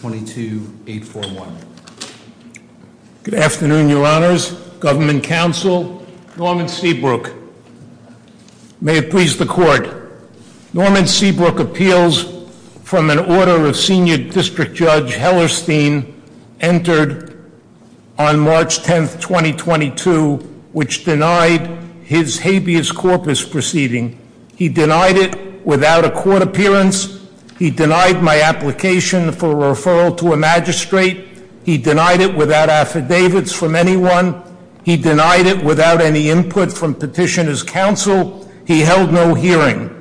22841. Good afternoon, your honors, government counsel, Norman Seabrook. May it please the court, Norman Seabrook appeals from an order of Senior District Judge Hellerstein entered on March 10th, 2022, which denied his habeas corpus proceeding. He denied it without a court appearance. He denied my application for referral to a magistrate. He denied it without affidavits from anyone. He denied it without any input from petitioner's counsel. He held no hearing.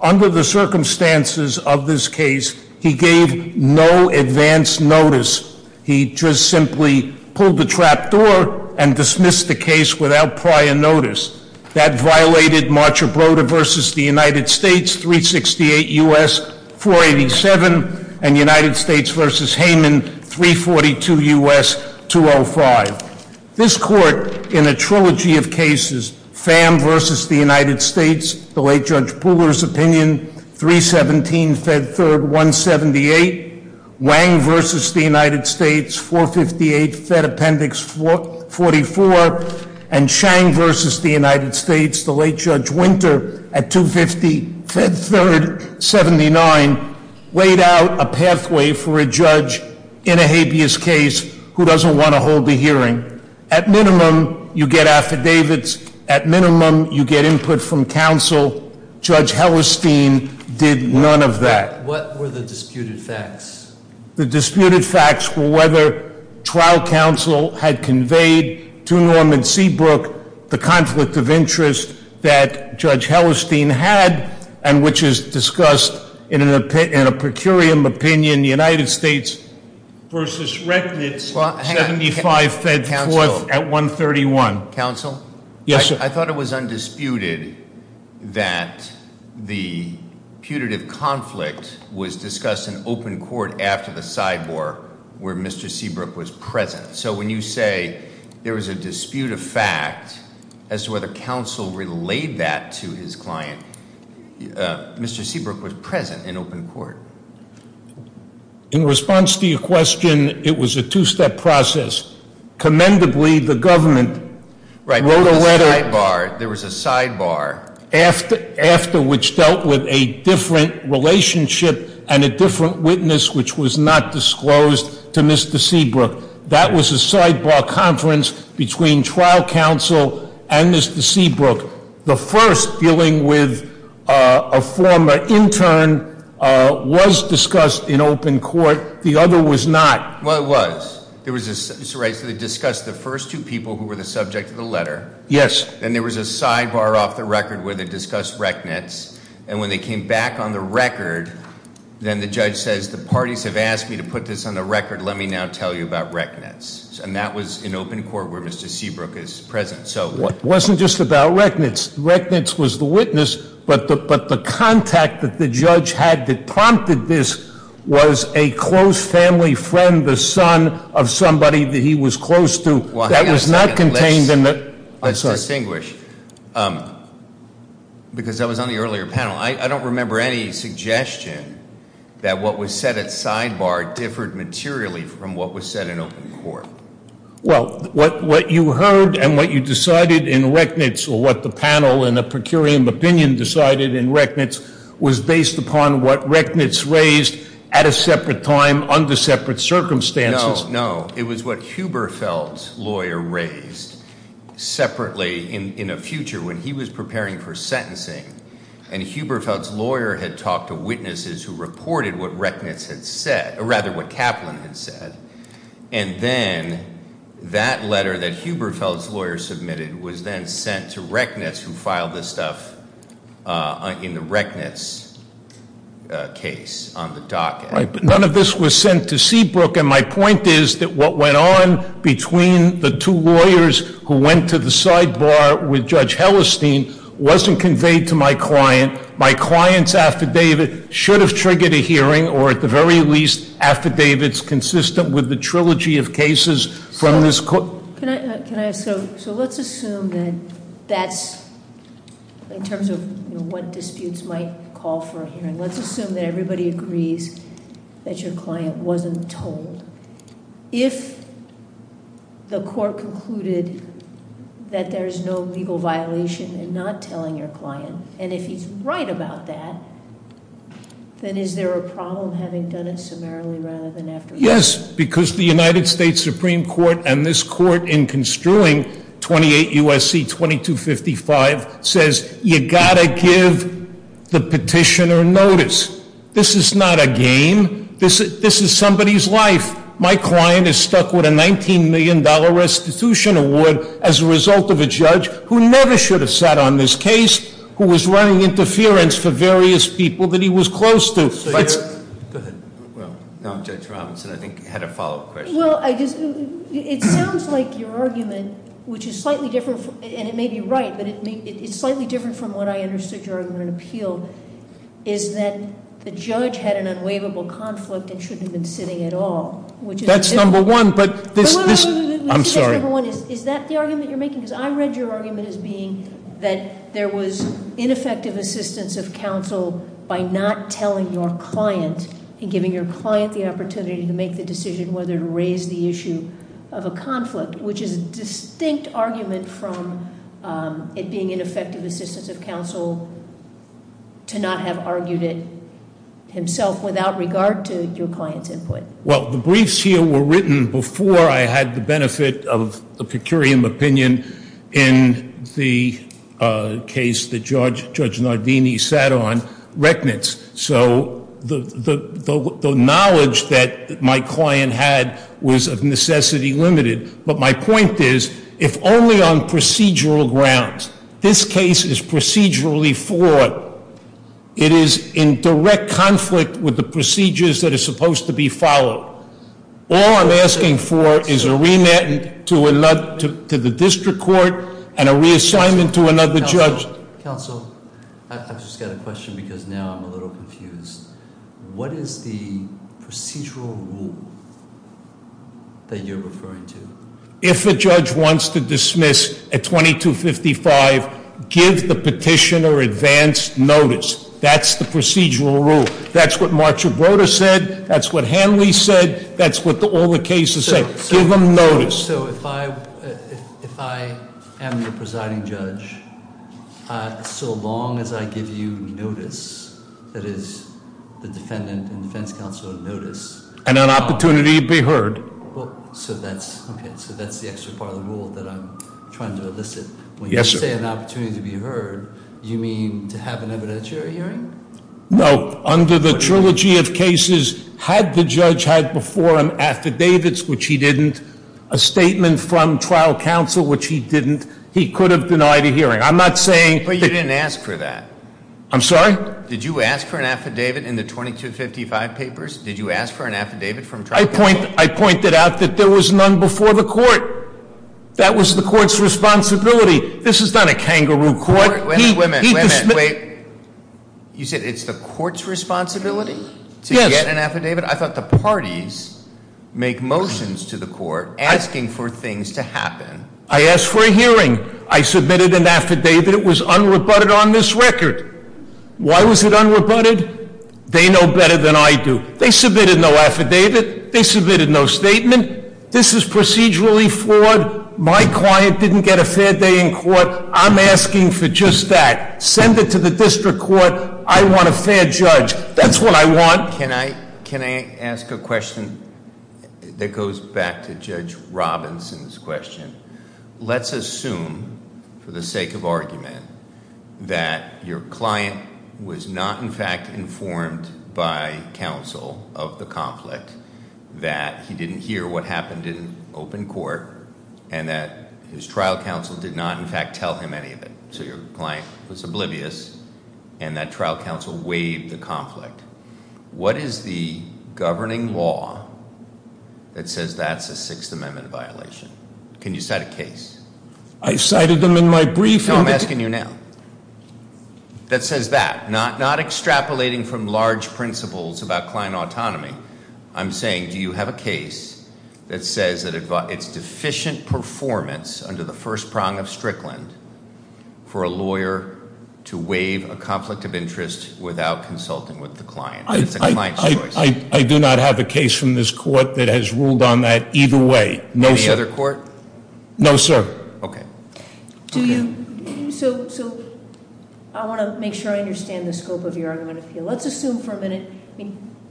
Under the circumstances of this case, he gave no advance notice. He just simply pulled the trap door and dismissed the case without prior notice. That violated Marchabrota v. The United States 368 U.S. 487 and United States v. Heyman 342 U.S. 205. This court, in a trilogy of cases, Pham v. The United States, the late Judge Pooler's opinion, 317 Fed 3rd 178. Wang v. The United States 458 Fed Appendix 44 and Chang v. The United States, the late Judge Winter at 250 Fed 3rd 79, laid out a pathway for a judge in a habeas case who doesn't want to hold a hearing. At minimum, you get affidavits. At minimum, you get input from counsel. Judge Hellerstein did none of that. What were the disputed facts? The disputed facts were whether trial counsel had conveyed to Norman Seabrook the conflict of interest that Judge Hellerstein had, and which is discussed in a per curiam opinion, the United States. Versus reckoning 75 Fed 4th at 131. Counsel? Yes, sir. I thought it was undisputed that the putative conflict was discussed in open court after the sidebore where Mr. Seabrook was present. So when you say there was a dispute of fact as to whether counsel relayed that to his client, Mr. Seabrook was present in open court. In response to your question, it was a two-step process. Commendably, the government wrote a letter- Right, there was a sidebar. There was a sidebar. After which dealt with a different relationship and a different witness which was not disclosed to Mr. Seabrook. That was a sidebar conference between trial counsel and Mr. Seabrook. The first dealing with a former intern was discussed in open court, the other was not. Well, it was. There was, Mr. Wright, so they discussed the first two people who were the subject of the letter. Yes. And there was a sidebar off the record where they discussed recknets. And when they came back on the record, then the judge says, the parties have asked me to put this on the record. Let me now tell you about recknets. And that was in open court where Mr. Seabrook is present. So- Wasn't just about recknets. Recknets was the witness, but the contact that the judge had that prompted this was a close family friend, the son of somebody that he was close to. That was not contained in the- I'm sorry. Let's distinguish, because that was on the earlier panel. I don't remember any suggestion that what was said at sidebar differed materially from what was said in open court. Well, what you heard and what you decided in recknets, or what the panel in a per curiam opinion decided in recknets, was based upon what recknets raised at a separate time under separate circumstances. No, it was what Huberfeld's lawyer raised separately in a future when he was preparing for sentencing. And Huberfeld's lawyer had talked to witnesses who reported what Recknets had said, or rather what Kaplan had said. And then that letter that Huberfeld's lawyer submitted was then sent to Huberfeld in the Recknets case on the docket. Right, but none of this was sent to Seabrook, and my point is that what went on between the two lawyers who went to the sidebar with Judge Hellestein wasn't conveyed to my client. My client's affidavit should have triggered a hearing, or at the very least, affidavits consistent with the trilogy of cases from this court. So, let's assume that that's, in terms of what disputes might call for a hearing. Let's assume that everybody agrees that your client wasn't told. If the court concluded that there's no legal violation in not telling your client, and if he's right about that, then is there a problem having done it summarily rather than afterwards? Yes, because the United States Supreme Court and this court in construing 28 USC 2255 says you gotta give the petitioner notice. This is not a game, this is somebody's life. My client is stuck with a $19 million restitution award as a result of a judge who never should have sat on this case, who was running interference for various people that he was close to. Go ahead. Well, now Judge Robinson, I think, had a follow-up question. Well, it sounds like your argument, which is slightly different, and it may be right, but it's slightly different from what I understood your argument appealed, is that the judge had an unwaverable conflict and shouldn't have been sitting at all. Which is- That's number one, but this, I'm sorry. Is that the argument you're making? Because I read your argument as being that there was ineffective assistance of a client in giving your client the opportunity to make the decision whether to raise the issue of a conflict, which is a distinct argument from it being ineffective assistance of counsel to not have argued it himself without regard to your client's input. Well, the briefs here were written before I had the benefit of the pecurium opinion in the case that Judge Nardini sat on, Reckonance. So the knowledge that my client had was of necessity limited. But my point is, if only on procedural grounds, this case is procedurally fought. It is in direct conflict with the procedures that are supposed to be followed. All I'm asking for is a remand to the district court and a reassignment to another judge. Counsel, I've just got a question because now I'm a little confused. What is the procedural rule that you're referring to? If a judge wants to dismiss a 2255, give the petitioner advance notice. That's the procedural rule. That's what Marcia Broder said. That's what Hanley said. That's what all the cases say. Give them notice. So if I am the presiding judge, so long as I give you notice, that is the defendant and defense counsel a notice. And an opportunity to be heard. So that's the extra part of the rule that I'm trying to elicit. When you say an opportunity to be heard, you mean to have an evidentiary hearing? No, under the trilogy of cases, had the judge had before him affidavits, which he didn't, a statement from trial counsel, which he didn't, he could have denied a hearing. I'm not saying- But you didn't ask for that. I'm sorry? Did you ask for an affidavit in the 2255 papers? Did you ask for an affidavit from trial counsel? I pointed out that there was none before the court. That was the court's responsibility. This is not a kangaroo court. Wait a minute, wait a minute, wait. You said it's the court's responsibility to get an affidavit? I thought the parties make motions to the court asking for things to happen. I asked for a hearing. I submitted an affidavit. It was unrebutted on this record. Why was it unrebutted? They know better than I do. They submitted no affidavit. They submitted no statement. This is procedurally flawed. My client didn't get a fair day in court. I'm asking for just that. Send it to the district court. I want a fair judge. That's what I want. Can I ask a question that goes back to Judge Robinson's question? Let's assume, for the sake of argument, that your client was not in fact informed by counsel of the conflict. That he didn't hear what happened in open court and that his trial counsel did not in fact tell him any of it. So your client was oblivious and that trial counsel waived the conflict. What is the governing law that says that's a Sixth Amendment violation? Can you cite a case? I've cited them in my brief. No, I'm asking you now. That says that, not extrapolating from large principles about client autonomy. I'm saying, do you have a case that says that it's deficient performance under the first prong of Strickland for a lawyer to waive a conflict of interest without consulting with the client? It's the client's choice. I do not have a case from this court that has ruled on that either way. No sir. Any other court? No sir. Okay. Do you, so I want to make sure I understand the scope of your argument. Let's assume for a minute,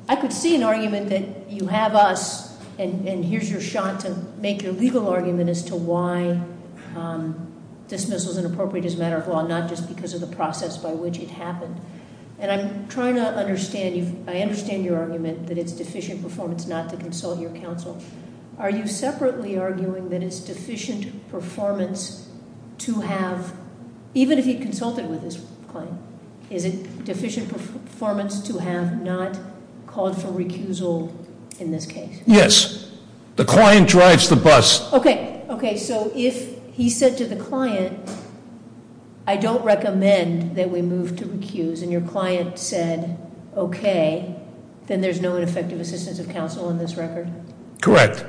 I could see an argument that you have us and here's your shot to make your legal argument as to why dismissal's inappropriate as a matter of law. Not just because of the process by which it happened. And I'm trying to understand, I understand your argument that it's deficient performance not to consult your counsel. Are you separately arguing that it's deficient performance to have, even if he consulted with his client, is it deficient performance to have not called for recusal in this case? Yes. The client drives the bus. Okay, okay. So if he said to the client, I don't recommend that we move to recuse, and your client said, okay, then there's no effective assistance of counsel in this record? Correct.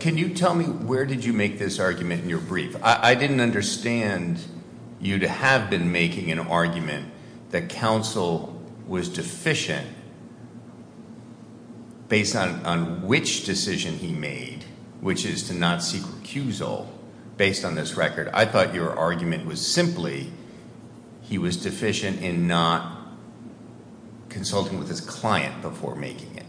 Can you tell me, where did you make this argument in your brief? I didn't understand you to have been making an argument that counsel was deficient based on which decision he made, which is to not seek recusal based on this record. I thought your argument was simply, he was deficient in not consulting with his client before making it.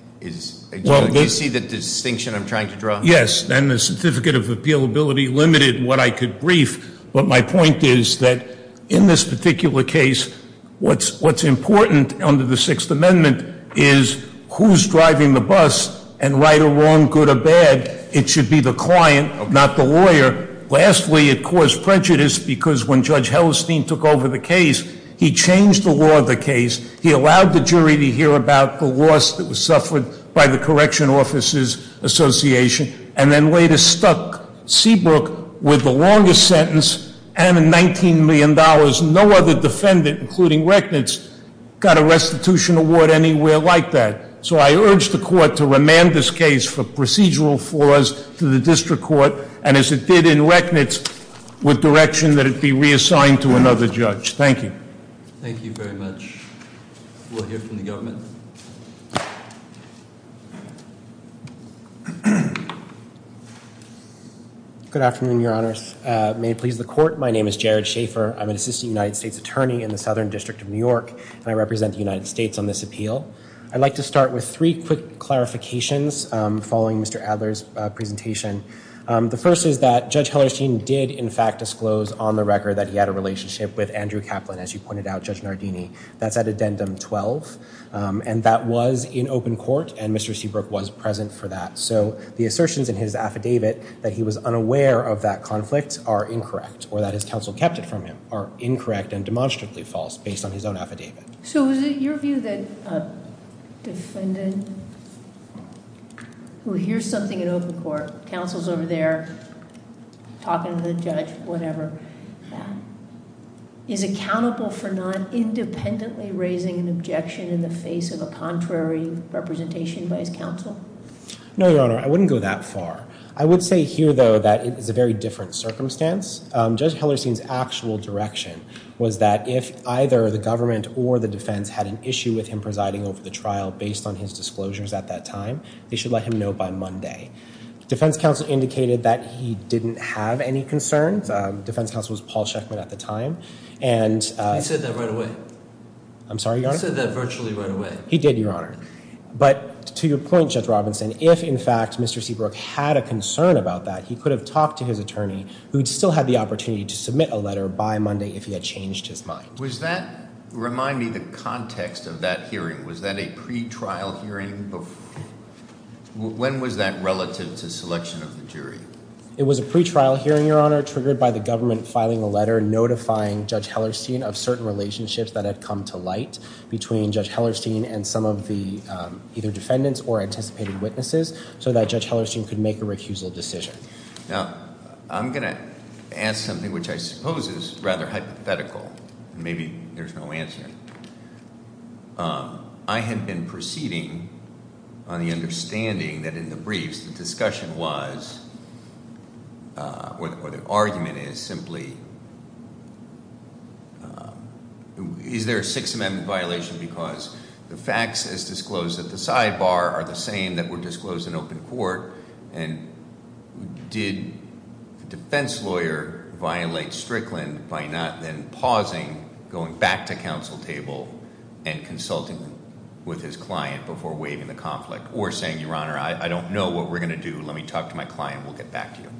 Do you see the distinction I'm trying to draw? Yes, and the certificate of appealability limited what I could brief. But my point is that in this particular case, what's important under the Sixth Amendment is who's driving the bus, and right or wrong, good or bad, it should be the client, not the lawyer. Lastly, it caused prejudice because when Judge Hellestein took over the case, he changed the law of the case. He allowed the jury to hear about the loss that was suffered by the Correctional Officers Association, and then later stuck Seabrook with the longest sentence and a $19 million. No other defendant, including Recknitz, got a restitution award anywhere like that. So I urge the court to remand this case for procedural flaws to the district court. And as it did in Recknitz, with direction that it be reassigned to another judge. Thank you. Thank you very much. We'll hear from the government. Good afternoon, Your Honors. May it please the court, my name is Jared Schaefer. I'm an assistant United States attorney in the Southern District of New York, and I represent the United States on this appeal. I'd like to start with three quick clarifications following Mr. Adler's presentation. The first is that Judge Hellestein did, in fact, disclose on the record that he had a relationship with Andrew Kaplan, as you pointed out, Judge Nardini. That's at addendum 12, and that was in open court, and Mr. Seabrook was present for that. So the assertions in his affidavit that he was unaware of that conflict are incorrect, or that his counsel kept it from him are incorrect and demonstrably false, based on his own affidavit. So is it your view that a defendant who hears something in open court, counsel's over there talking to the judge, whatever, is accountable for not independently raising an objection in the face of a contrary representation by his counsel? No, Your Honor, I wouldn't go that far. I would say here, though, that it is a very different circumstance. Judge Hellestein's actual direction was that if either the government or the defense had an issue with him presiding over the trial based on his disclosures at that time, they should let him know by Monday. Defense counsel indicated that he didn't have any concerns. Defense counsel was Paul Sheckman at the time. He said that right away. I'm sorry, Your Honor? He said that virtually right away. He did, Your Honor. But to your point, Judge Robinson, if, in fact, Mr. Seabrook had a concern about that, he could have talked to his attorney, who'd still had the opportunity to submit a letter by Monday if he had changed his mind. Was that, remind me the context of that hearing, was that a pre-trial hearing? When was that relative to selection of the jury? It was a pre-trial hearing, Your Honor, triggered by the government filing a letter notifying Judge Hellestein of certain relationships that had come to light between Judge Hellestein and some of the either defendants or anticipated witnesses so that Judge Hellestein could make a recusal decision. Now, I'm going to ask something which I suppose is rather hypothetical. Maybe there's no answer. I had been proceeding on the understanding that in the briefs the discussion was or the argument is simply, is there a Sixth Amendment violation because the facts as disclosed at the sidebar are the same that were disclosed in open court and did the defense lawyer violate Strickland by not then pausing, going back to counsel table and consulting with his client before waiving the conflict or saying, Your Honor, I don't know what we're going to do. Let me talk to my client. We'll get back to you.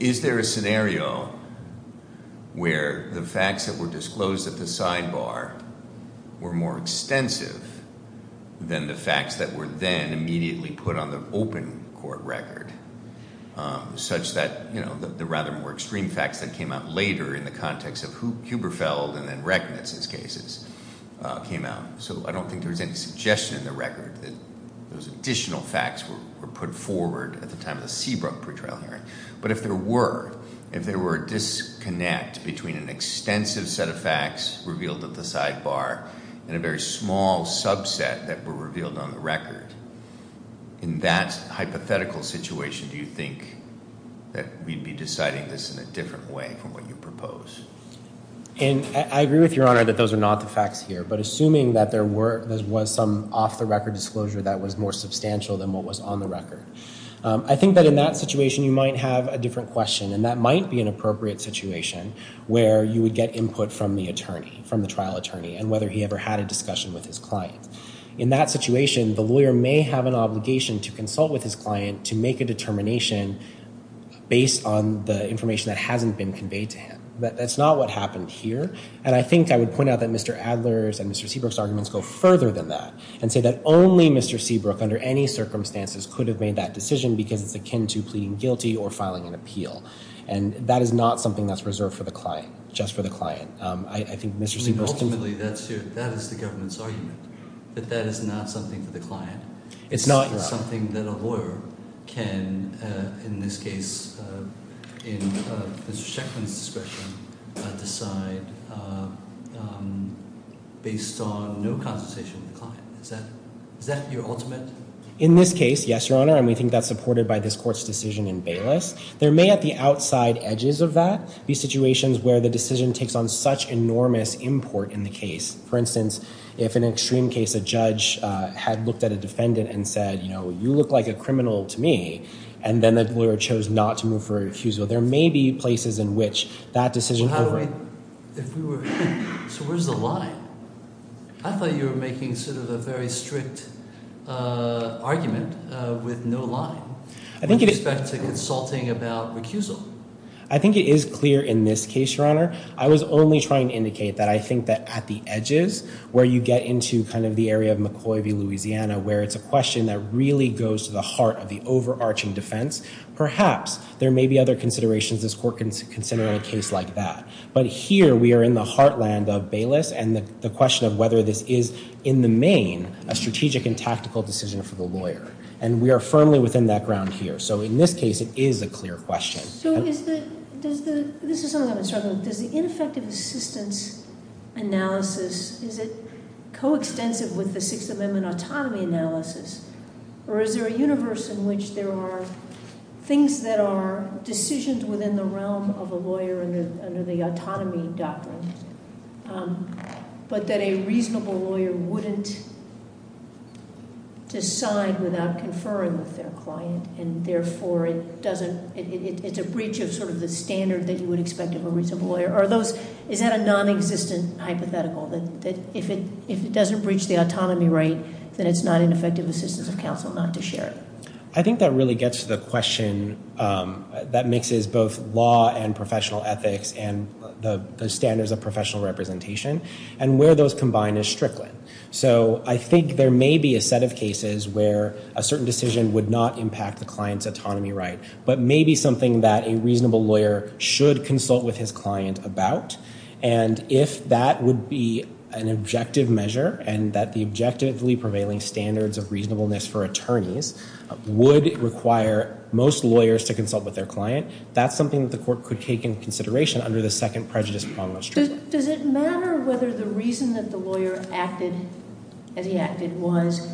Is there a scenario where the facts that were disclosed at the sidebar were more extensive than the facts that were then immediately put on the open court record such that the rather more extreme facts that came out later in the context of Huberfeld and then Recknitz's cases came out? So I don't think there was any suggestion in the record that those additional facts were put forward at the time of the Seabrook pre-trial hearing. But if there were, if there were a disconnect between an extensive set of facts revealed at the sidebar and a very small subset that were revealed on the record, in that hypothetical situation, do you think that we'd be deciding this in a different way from what you propose? And I agree with Your Honor that those are not the facts here. But assuming that there was some off-the-record disclosure that was more substantial than what was on the record, I think that in that situation, you might have a different question. And that might be an appropriate situation where you would get input from the attorney, from the trial attorney, and whether he ever had a discussion with his client. In that situation, the lawyer may have an obligation to consult with his client to make a determination based on the information that hasn't been conveyed to him. But that's not what happened here. And I think I would point out that Mr. Adler's and Mr. Seabrook's arguments go further than that and say that only Mr. Seabrook, under any circumstances, could have made that decision because it's akin to pleading guilty or filing an appeal. And that is not something that's reserved for the client, just for the client. I think Mr. Seabrook's— Ultimately, that is the government's argument, that that is not something for the client. It's not— It's something that a lawyer can, in this case, in Mr. Sheckman's discretion, decide based on no consultation with the client. Is that your ultimate— In this case, yes, Your Honor. And we think that's supported by this court's decision in Bayless. There may, at the outside edges of that, be situations where the decision takes on such enormous import in the case. For instance, if, in an extreme case, a judge had looked at a defendant and said, you know, you look like a criminal to me, and then the lawyer chose not to move for refusal, there may be places in which that decision— If we were— So where's the line? I thought you were making sort of a very strict argument with no line, with respect to consulting about recusal. I think it is clear in this case, Your Honor. I was only trying to indicate that I think that at the edges, where you get into kind of the area of McCoy v. Louisiana, where it's a question that really goes to the heart of the overarching defense, perhaps there may be other considerations this court can consider a case like that. But here, we are in the heartland of Bayless, and the question of whether this is, in the main, a strategic and tactical decision for the lawyer. And we are firmly within that ground here. So in this case, it is a clear question. So is the— This is something I've been struggling with. Does the ineffective assistance analysis, is it coextensive with the Sixth Amendment autonomy analysis? Or is there a universe in which there are things that are decisions within the realm of a lawyer under the autonomy doctrine, but that a reasonable lawyer wouldn't decide without conferring with their client? And therefore, it doesn't— It's a breach of sort of the standard that you would expect of a reasonable lawyer. Are those— Is that a non-existent hypothetical, that if it doesn't breach the autonomy right, then it's not an effective assistance of counsel not to share it? I think that really gets to the question that mixes both law and professional ethics and the standards of professional representation, and where those combine is Strickland. So I think there may be a set of cases where a certain decision would not impact the client's autonomy right, but maybe something that a reasonable lawyer should consult with his client about. And if that would be an objective measure, and that the objectively prevailing standards of reasonableness for attorneys would require most lawyers to consult with their client, that's something that the court could take into consideration under the Second Prejudice Prongless Treaty. Does it matter whether the reason that the lawyer acted as he acted was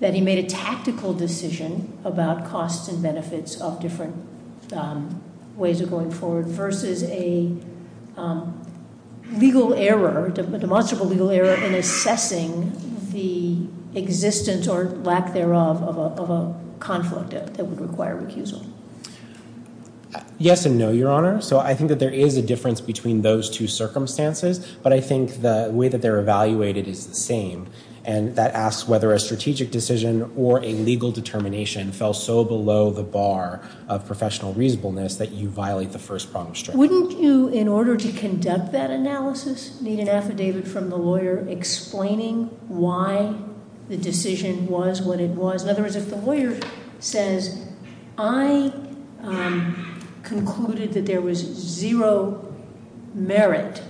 that he made a tactical decision about costs and benefits of different ways of going forward versus a legal error, demonstrable legal error in assessing the existence or lack thereof of a conflict that would require recusal? Yes and no, Your Honor. So I think that there is a difference between those two circumstances, but I think the way that they're evaluated is the same. And that asks whether a strategic decision or a legal determination fell so below the bar of professional reasonableness that you violate the First Prongless Treaty. Wouldn't you, in order to conduct that analysis, need an affidavit from the lawyer explaining why the decision was what it was? In other words, if the lawyer says, I concluded that there was zero merit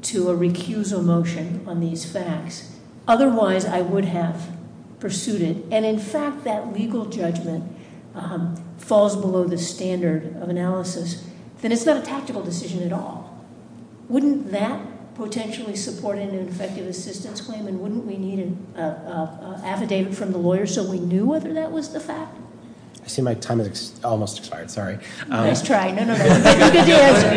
to a recusal motion on these facts, otherwise I would have pursued it. And in fact, that legal judgment falls below the standard of analysis, then it's not a tactical decision at all. Wouldn't that potentially support an effective assistance claim? And wouldn't we need an affidavit from the lawyer so we knew whether that was the fact? I see my time has almost expired. Sorry. Nice try. No, no, no.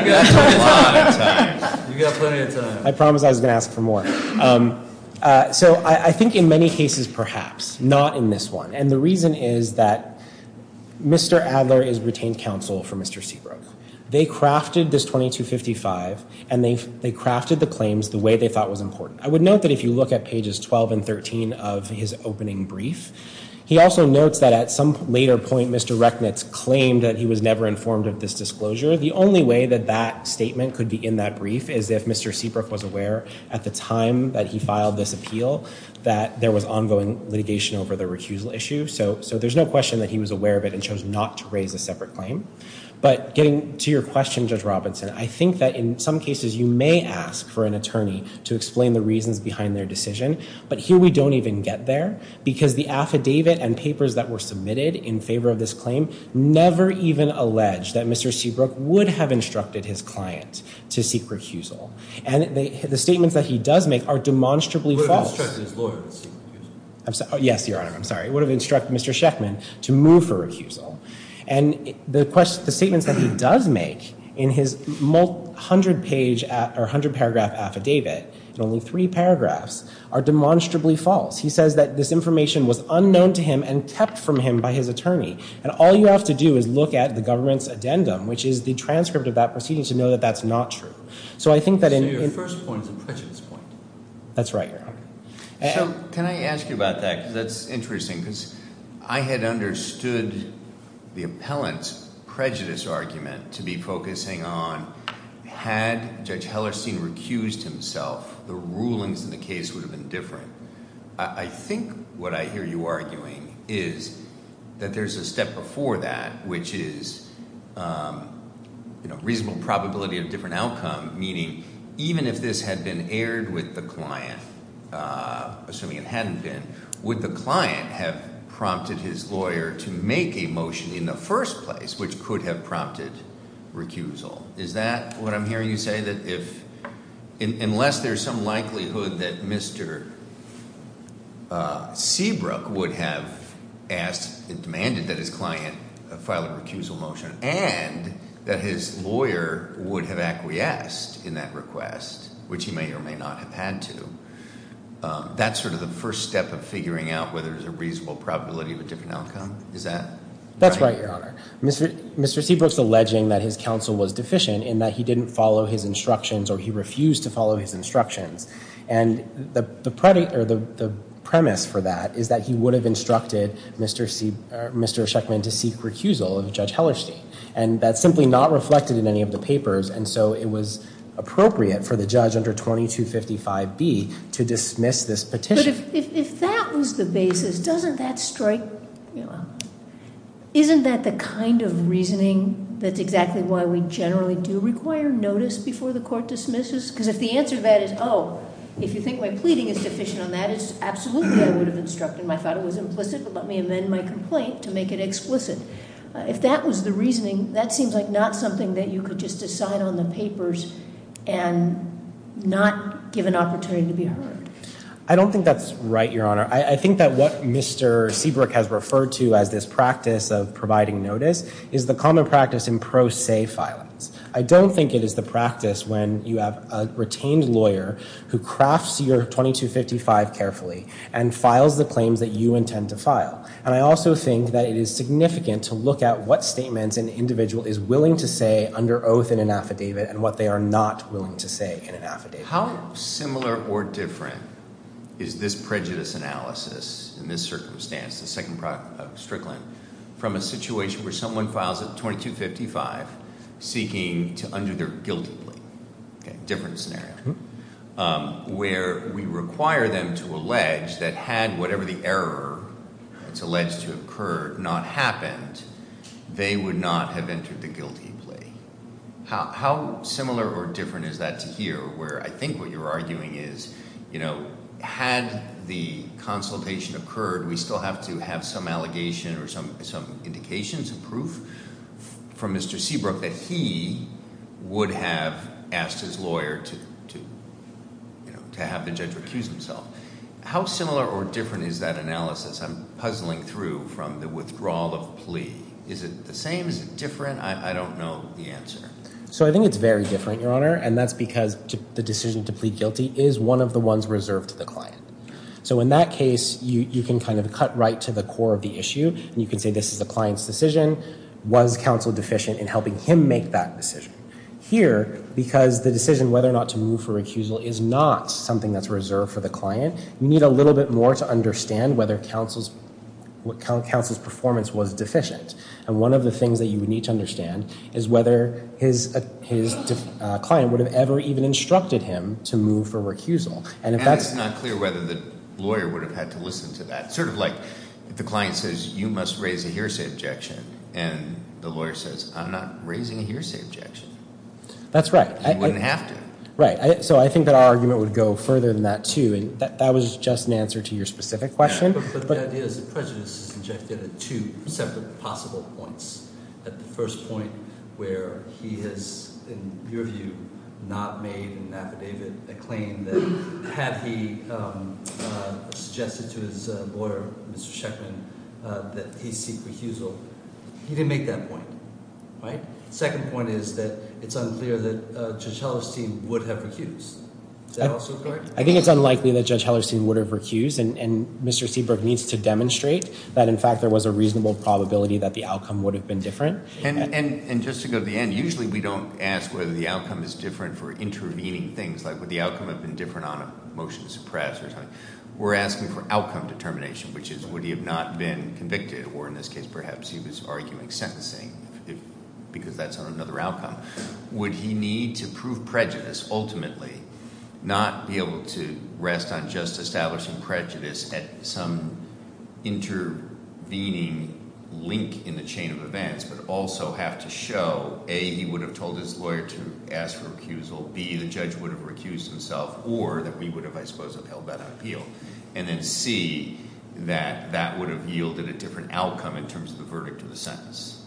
You got plenty of time. You got a lot of time. You got plenty of time. I promised I was going to ask for more. So I think in many cases, perhaps, not in this one. And the reason is that Mr. Adler is retained counsel for Mr. Seabrook. They crafted this 2255, and they crafted the claims the way they thought was important. I would note that if you look at pages 12 and 13 of his opening brief, he also notes that at some later point, Mr. Rechnitz claimed that he was never informed of this disclosure. The only way that that statement could be in that brief is if Mr. Seabrook was aware at the time that he filed this appeal that there was ongoing litigation over the recusal issue. So there's no question that he was aware of it and chose not to raise a separate claim. But getting to your question, Judge Robinson, I think that in some cases, you may ask for an attorney to explain the reasons behind their decision. But here, we don't even get there because the affidavit and papers that were submitted in favor of this claim never even alleged that Mr. Seabrook would have instructed his client to seek recusal. And the statements that he does make are demonstrably false. He would have instructed his lawyer to seek recusal. Yes, Your Honor. I'm sorry. He would have instructed Mr. Sheffman to move for recusal. And the statements that he does make in his 100-paragraph affidavit, in only three paragraphs, are demonstrably false. He says that this information was unknown to him and kept from him by his attorney. And all you have to do is look at the government's addendum, which is the transcript of that proceeding, to know that that's not true. So I think that in- So your first point is a prejudice point. That's right, Your Honor. So can I ask you about that? Because that's interesting. Because I had understood the appellant's prejudice argument to be focusing on, had Judge Hellerstein recused himself, the rulings in the case would have been different. I think what I hear you arguing is that there's a step before that, which is you know, reasonable probability of different outcome. Meaning, even if this had been aired with the client, assuming it hadn't been, would the client have prompted his lawyer to make a motion in the first place, which could have prompted recusal? Is that what I'm hearing you say? That if, unless there's some likelihood that Mr. Seabrook would have asked, demanded that his client file a recusal motion, and that his lawyer would have acquiesced in that request, which he may or may not have had to, that's sort of the first step of figuring out whether there's a reasonable probability of a different outcome? Is that right? That's right, Your Honor. Mr. Seabrook's alleging that his counsel was deficient in that he didn't follow his instructions or he refused to follow his instructions. And the premise for that is that he would have instructed Mr. Sheckman to seek recusal of Judge Hellerstein. And that's simply not reflected in any of the papers. And so it was appropriate for the judge under 2255B to dismiss this petition. But if that was the basis, doesn't that strike, isn't that the kind of reasoning that's exactly why we generally do require notice before the court dismisses? Because if the answer to that is, oh, if you think my pleading is deficient on that, it's absolutely I would have instructed. I thought it was implicit, but let me amend my complaint to make it explicit. If that was the reasoning, that seems like not something that you could just decide on the papers and not give an opportunity to be heard. I don't think that's right, Your Honor. I think that what Mr. Seabrook has referred to as this practice of providing notice is the common practice in pro se filings. I don't think it is the practice when you have a retained lawyer who crafts your 2255 carefully and files the claims that you intend to file. And I also think that it is significant to look at what statements an individual is willing to say under oath in an affidavit and what they are not willing to say in an affidavit. How similar or different is this prejudice analysis in this circumstance, the second product of Strickland, from a situation where someone files a 2255 seeking to undo their guilty plea? Different scenario. Where we require them to allege that had whatever the error that's alleged to occur not happened, they would not have entered the guilty plea. How similar or different is that to here? Where I think what you're arguing is, had the consultation occurred, we still have to have some allegation or some indications of proof from Mr. Seabrook that he would have asked his lawyer to have the judge recuse himself. How similar or different is that analysis? I'm puzzling through from the withdrawal of plea. Is it the same? Is it different? I don't know the answer. So I think it's very different, Your Honor. And that's because the decision to plead guilty is one of the ones reserved to the client. So in that case, you can kind of cut right to the core of the issue, and you can say, this is the client's decision. Was counsel deficient in helping him make that decision? Here, because the decision whether or not to move for recusal is not something that's reserved for the client, you need a little bit more to understand whether counsel's performance was deficient. And one of the things that you would need to understand is whether his client would have ever even instructed him to move for recusal. And it's not clear whether the lawyer would have had to listen to that. Sort of like if the client says, you must raise a hearsay objection, and the lawyer says, I'm not raising a hearsay objection. That's right. You wouldn't have to. Right. So I think that our argument would go further than that, too. And that was just an answer to your specific question. But the idea is that prejudice is injected at two separate possible points. At the first point, where he has, in your view, not made an affidavit, a claim that had he suggested to his lawyer, Mr. Sheckman, that he seek recusal, he didn't make that point. Right? Second point is that it's unclear that Judge Hellerstein would have recused. Is that also correct? I think it's unlikely that Judge Hellerstein would have recused. And Mr. Seabrook needs to demonstrate that, in fact, there was a reasonable probability that the outcome would have been different. And just to go to the end, usually we don't ask whether the outcome is different for intervening things, like would the outcome have been different on a motion to suppress or something. We're asking for outcome determination, which is, would he have not been convicted? Or in this case, perhaps he was arguing sentencing, because that's on another outcome. Would he need to prove prejudice, ultimately, not be able to rest on just establishing prejudice at some intervening link in the chain of events, but also have to show, A, he would have told his lawyer to ask for recusal, B, the judge would have recused himself, or that we would have, I suppose, held that on appeal. And then C, that that would have yielded a different outcome in terms of the verdict of the sentence.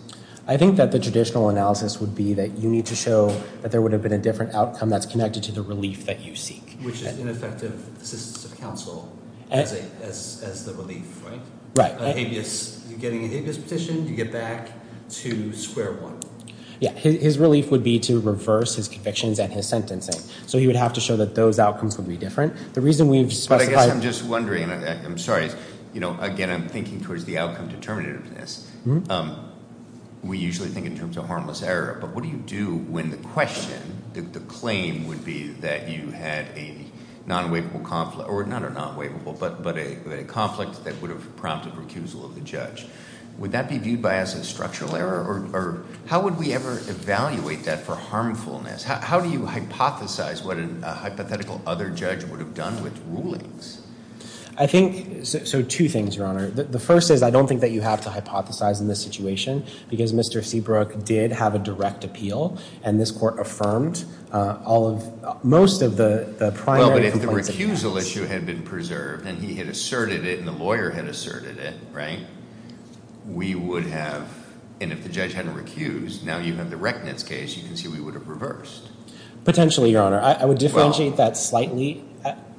I think that the traditional analysis would be that you need to show that there would have been a different outcome that's connected to the relief that you seek. Which is ineffective assistance of counsel as the relief, right? Right. You're getting an habeas petition, you get back to square one. Yeah. His relief would be to reverse his convictions and his sentencing. So he would have to show that those outcomes would be different. The reason we've specified- But I guess I'm just wondering, I'm sorry, again, I'm thinking towards the outcome determinativeness. We usually think in terms of harmless error, but what do you do when the question, the claim would be that you had a non-waivable conflict, or not a non-waivable, but a conflict that would have prompted recusal of the judge? Would that be viewed by us as structural error? Or how would we ever evaluate that for harmfulness? How do you hypothesize what a hypothetical other judge would have done with rulings? I think, so two things, Your Honor. The first is, I don't think that you have to hypothesize in this situation. Because Mr. Seabrook did have a direct appeal. And this court affirmed all of, most of the primary- Well, but if the recusal issue had been preserved, and he had asserted it, and the lawyer had asserted it, right? We would have, and if the judge hadn't recused, now you have the reckonance case, you can see we would have reversed. Potentially, Your Honor. I would differentiate that slightly.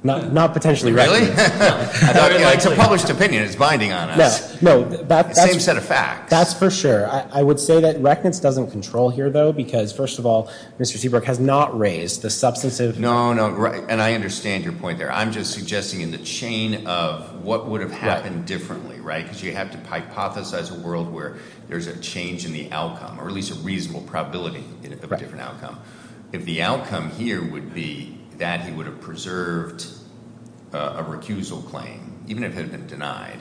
Not potentially. Really? It's a published opinion. It's binding on us. No, that's- Same set of facts. That's for sure. I would say that reckonance doesn't control here, though. Because first of all, Mr. Seabrook has not raised the substantive- And I understand your point there. I'm just suggesting in the chain of what would have happened differently, right? Because you have to hypothesize a world where there's a change in the outcome, or at least a reasonable probability of a different outcome. If the outcome here would be that he would have preserved a recusal claim, even if it had been denied.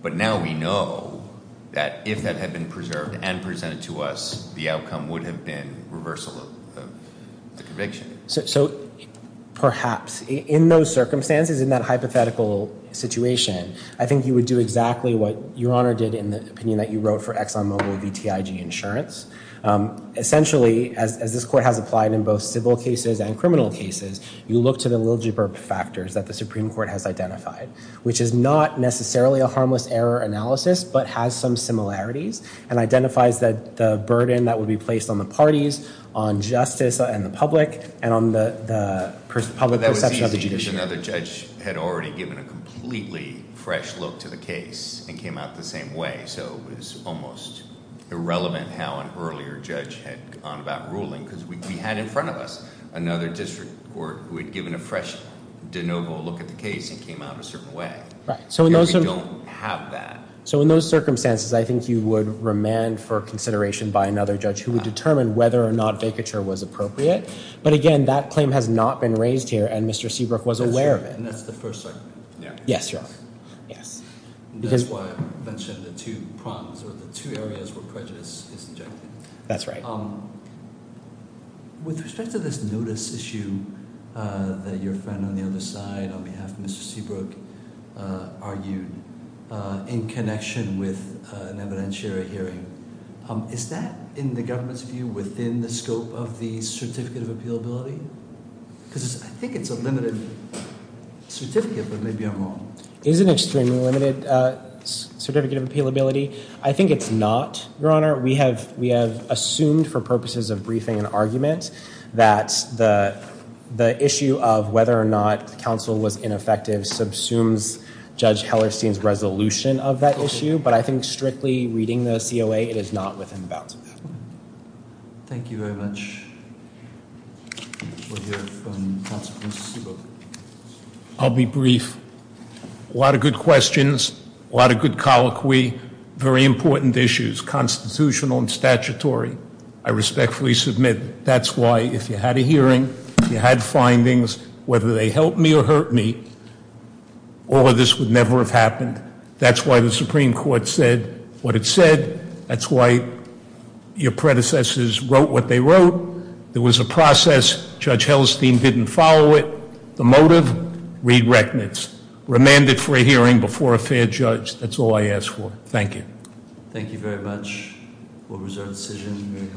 But now we know that if that had been preserved and presented to us, the outcome would have been reversal of the conviction. So perhaps in those circumstances, in that hypothetical situation, I think you would do exactly what Your Honor did in the opinion that you wrote for Exxon Mobil VTIG insurance. Essentially, as this court has applied in both civil cases and criminal cases, you look to the Liljiburp factors that the Supreme Court has identified, which is not necessarily a harmless error analysis, but has some similarities and identifies that the burden that would be placed on the parties, on justice and the public, and on the public perception of the judiciary. That was easy because another judge had already given a completely fresh look to the case and came out the same way. So it was almost irrelevant how an earlier judge had gone about ruling because we had in front of us another district court who had given a fresh de novo look at the case and came out a certain way. Right. And we don't have that. So in those circumstances, I think you would remand for consideration by another judge who would determine whether or not vacature was appropriate. But again, that claim has not been raised here and Mr. Seabrook was aware of it. And that's the first argument. Yes, you're right. Yes. That's why I mentioned the two prongs or the two areas where prejudice is injected. That's right. With respect to this notice issue that your friend on the other side, on behalf of Mr. Seabrook, argued in connection with an evidentiary hearing, is that in the government's view within the scope of the certificate of appealability? Because I think it's a limited certificate, but maybe I'm wrong. It is an extremely limited certificate of appealability. I think it's not, Your Honor. We have assumed for purposes of briefing and argument that the issue of whether or not counsel was ineffective subsumes Judge Hellerstein's resolution of that issue. But I think strictly reading the COA, it is not within the bounds of that. Thank you very much. We'll hear from counsel Mr. Seabrook. I'll be brief. A lot of good questions, a lot of good colloquy, very important issues, constitutional and statutory. I respectfully submit that's why if you had a hearing, if you had findings, whether they helped me or hurt me, all of this would never have happened. That's why the Supreme Court said what it said. That's why your predecessors wrote what they wrote. There was a process. Judge Hellerstein didn't follow it. The motive? Read Recknitz. Remanded for a hearing before a fair judge. That's all I ask for. Thank you. Thank you very much for a reserved decision.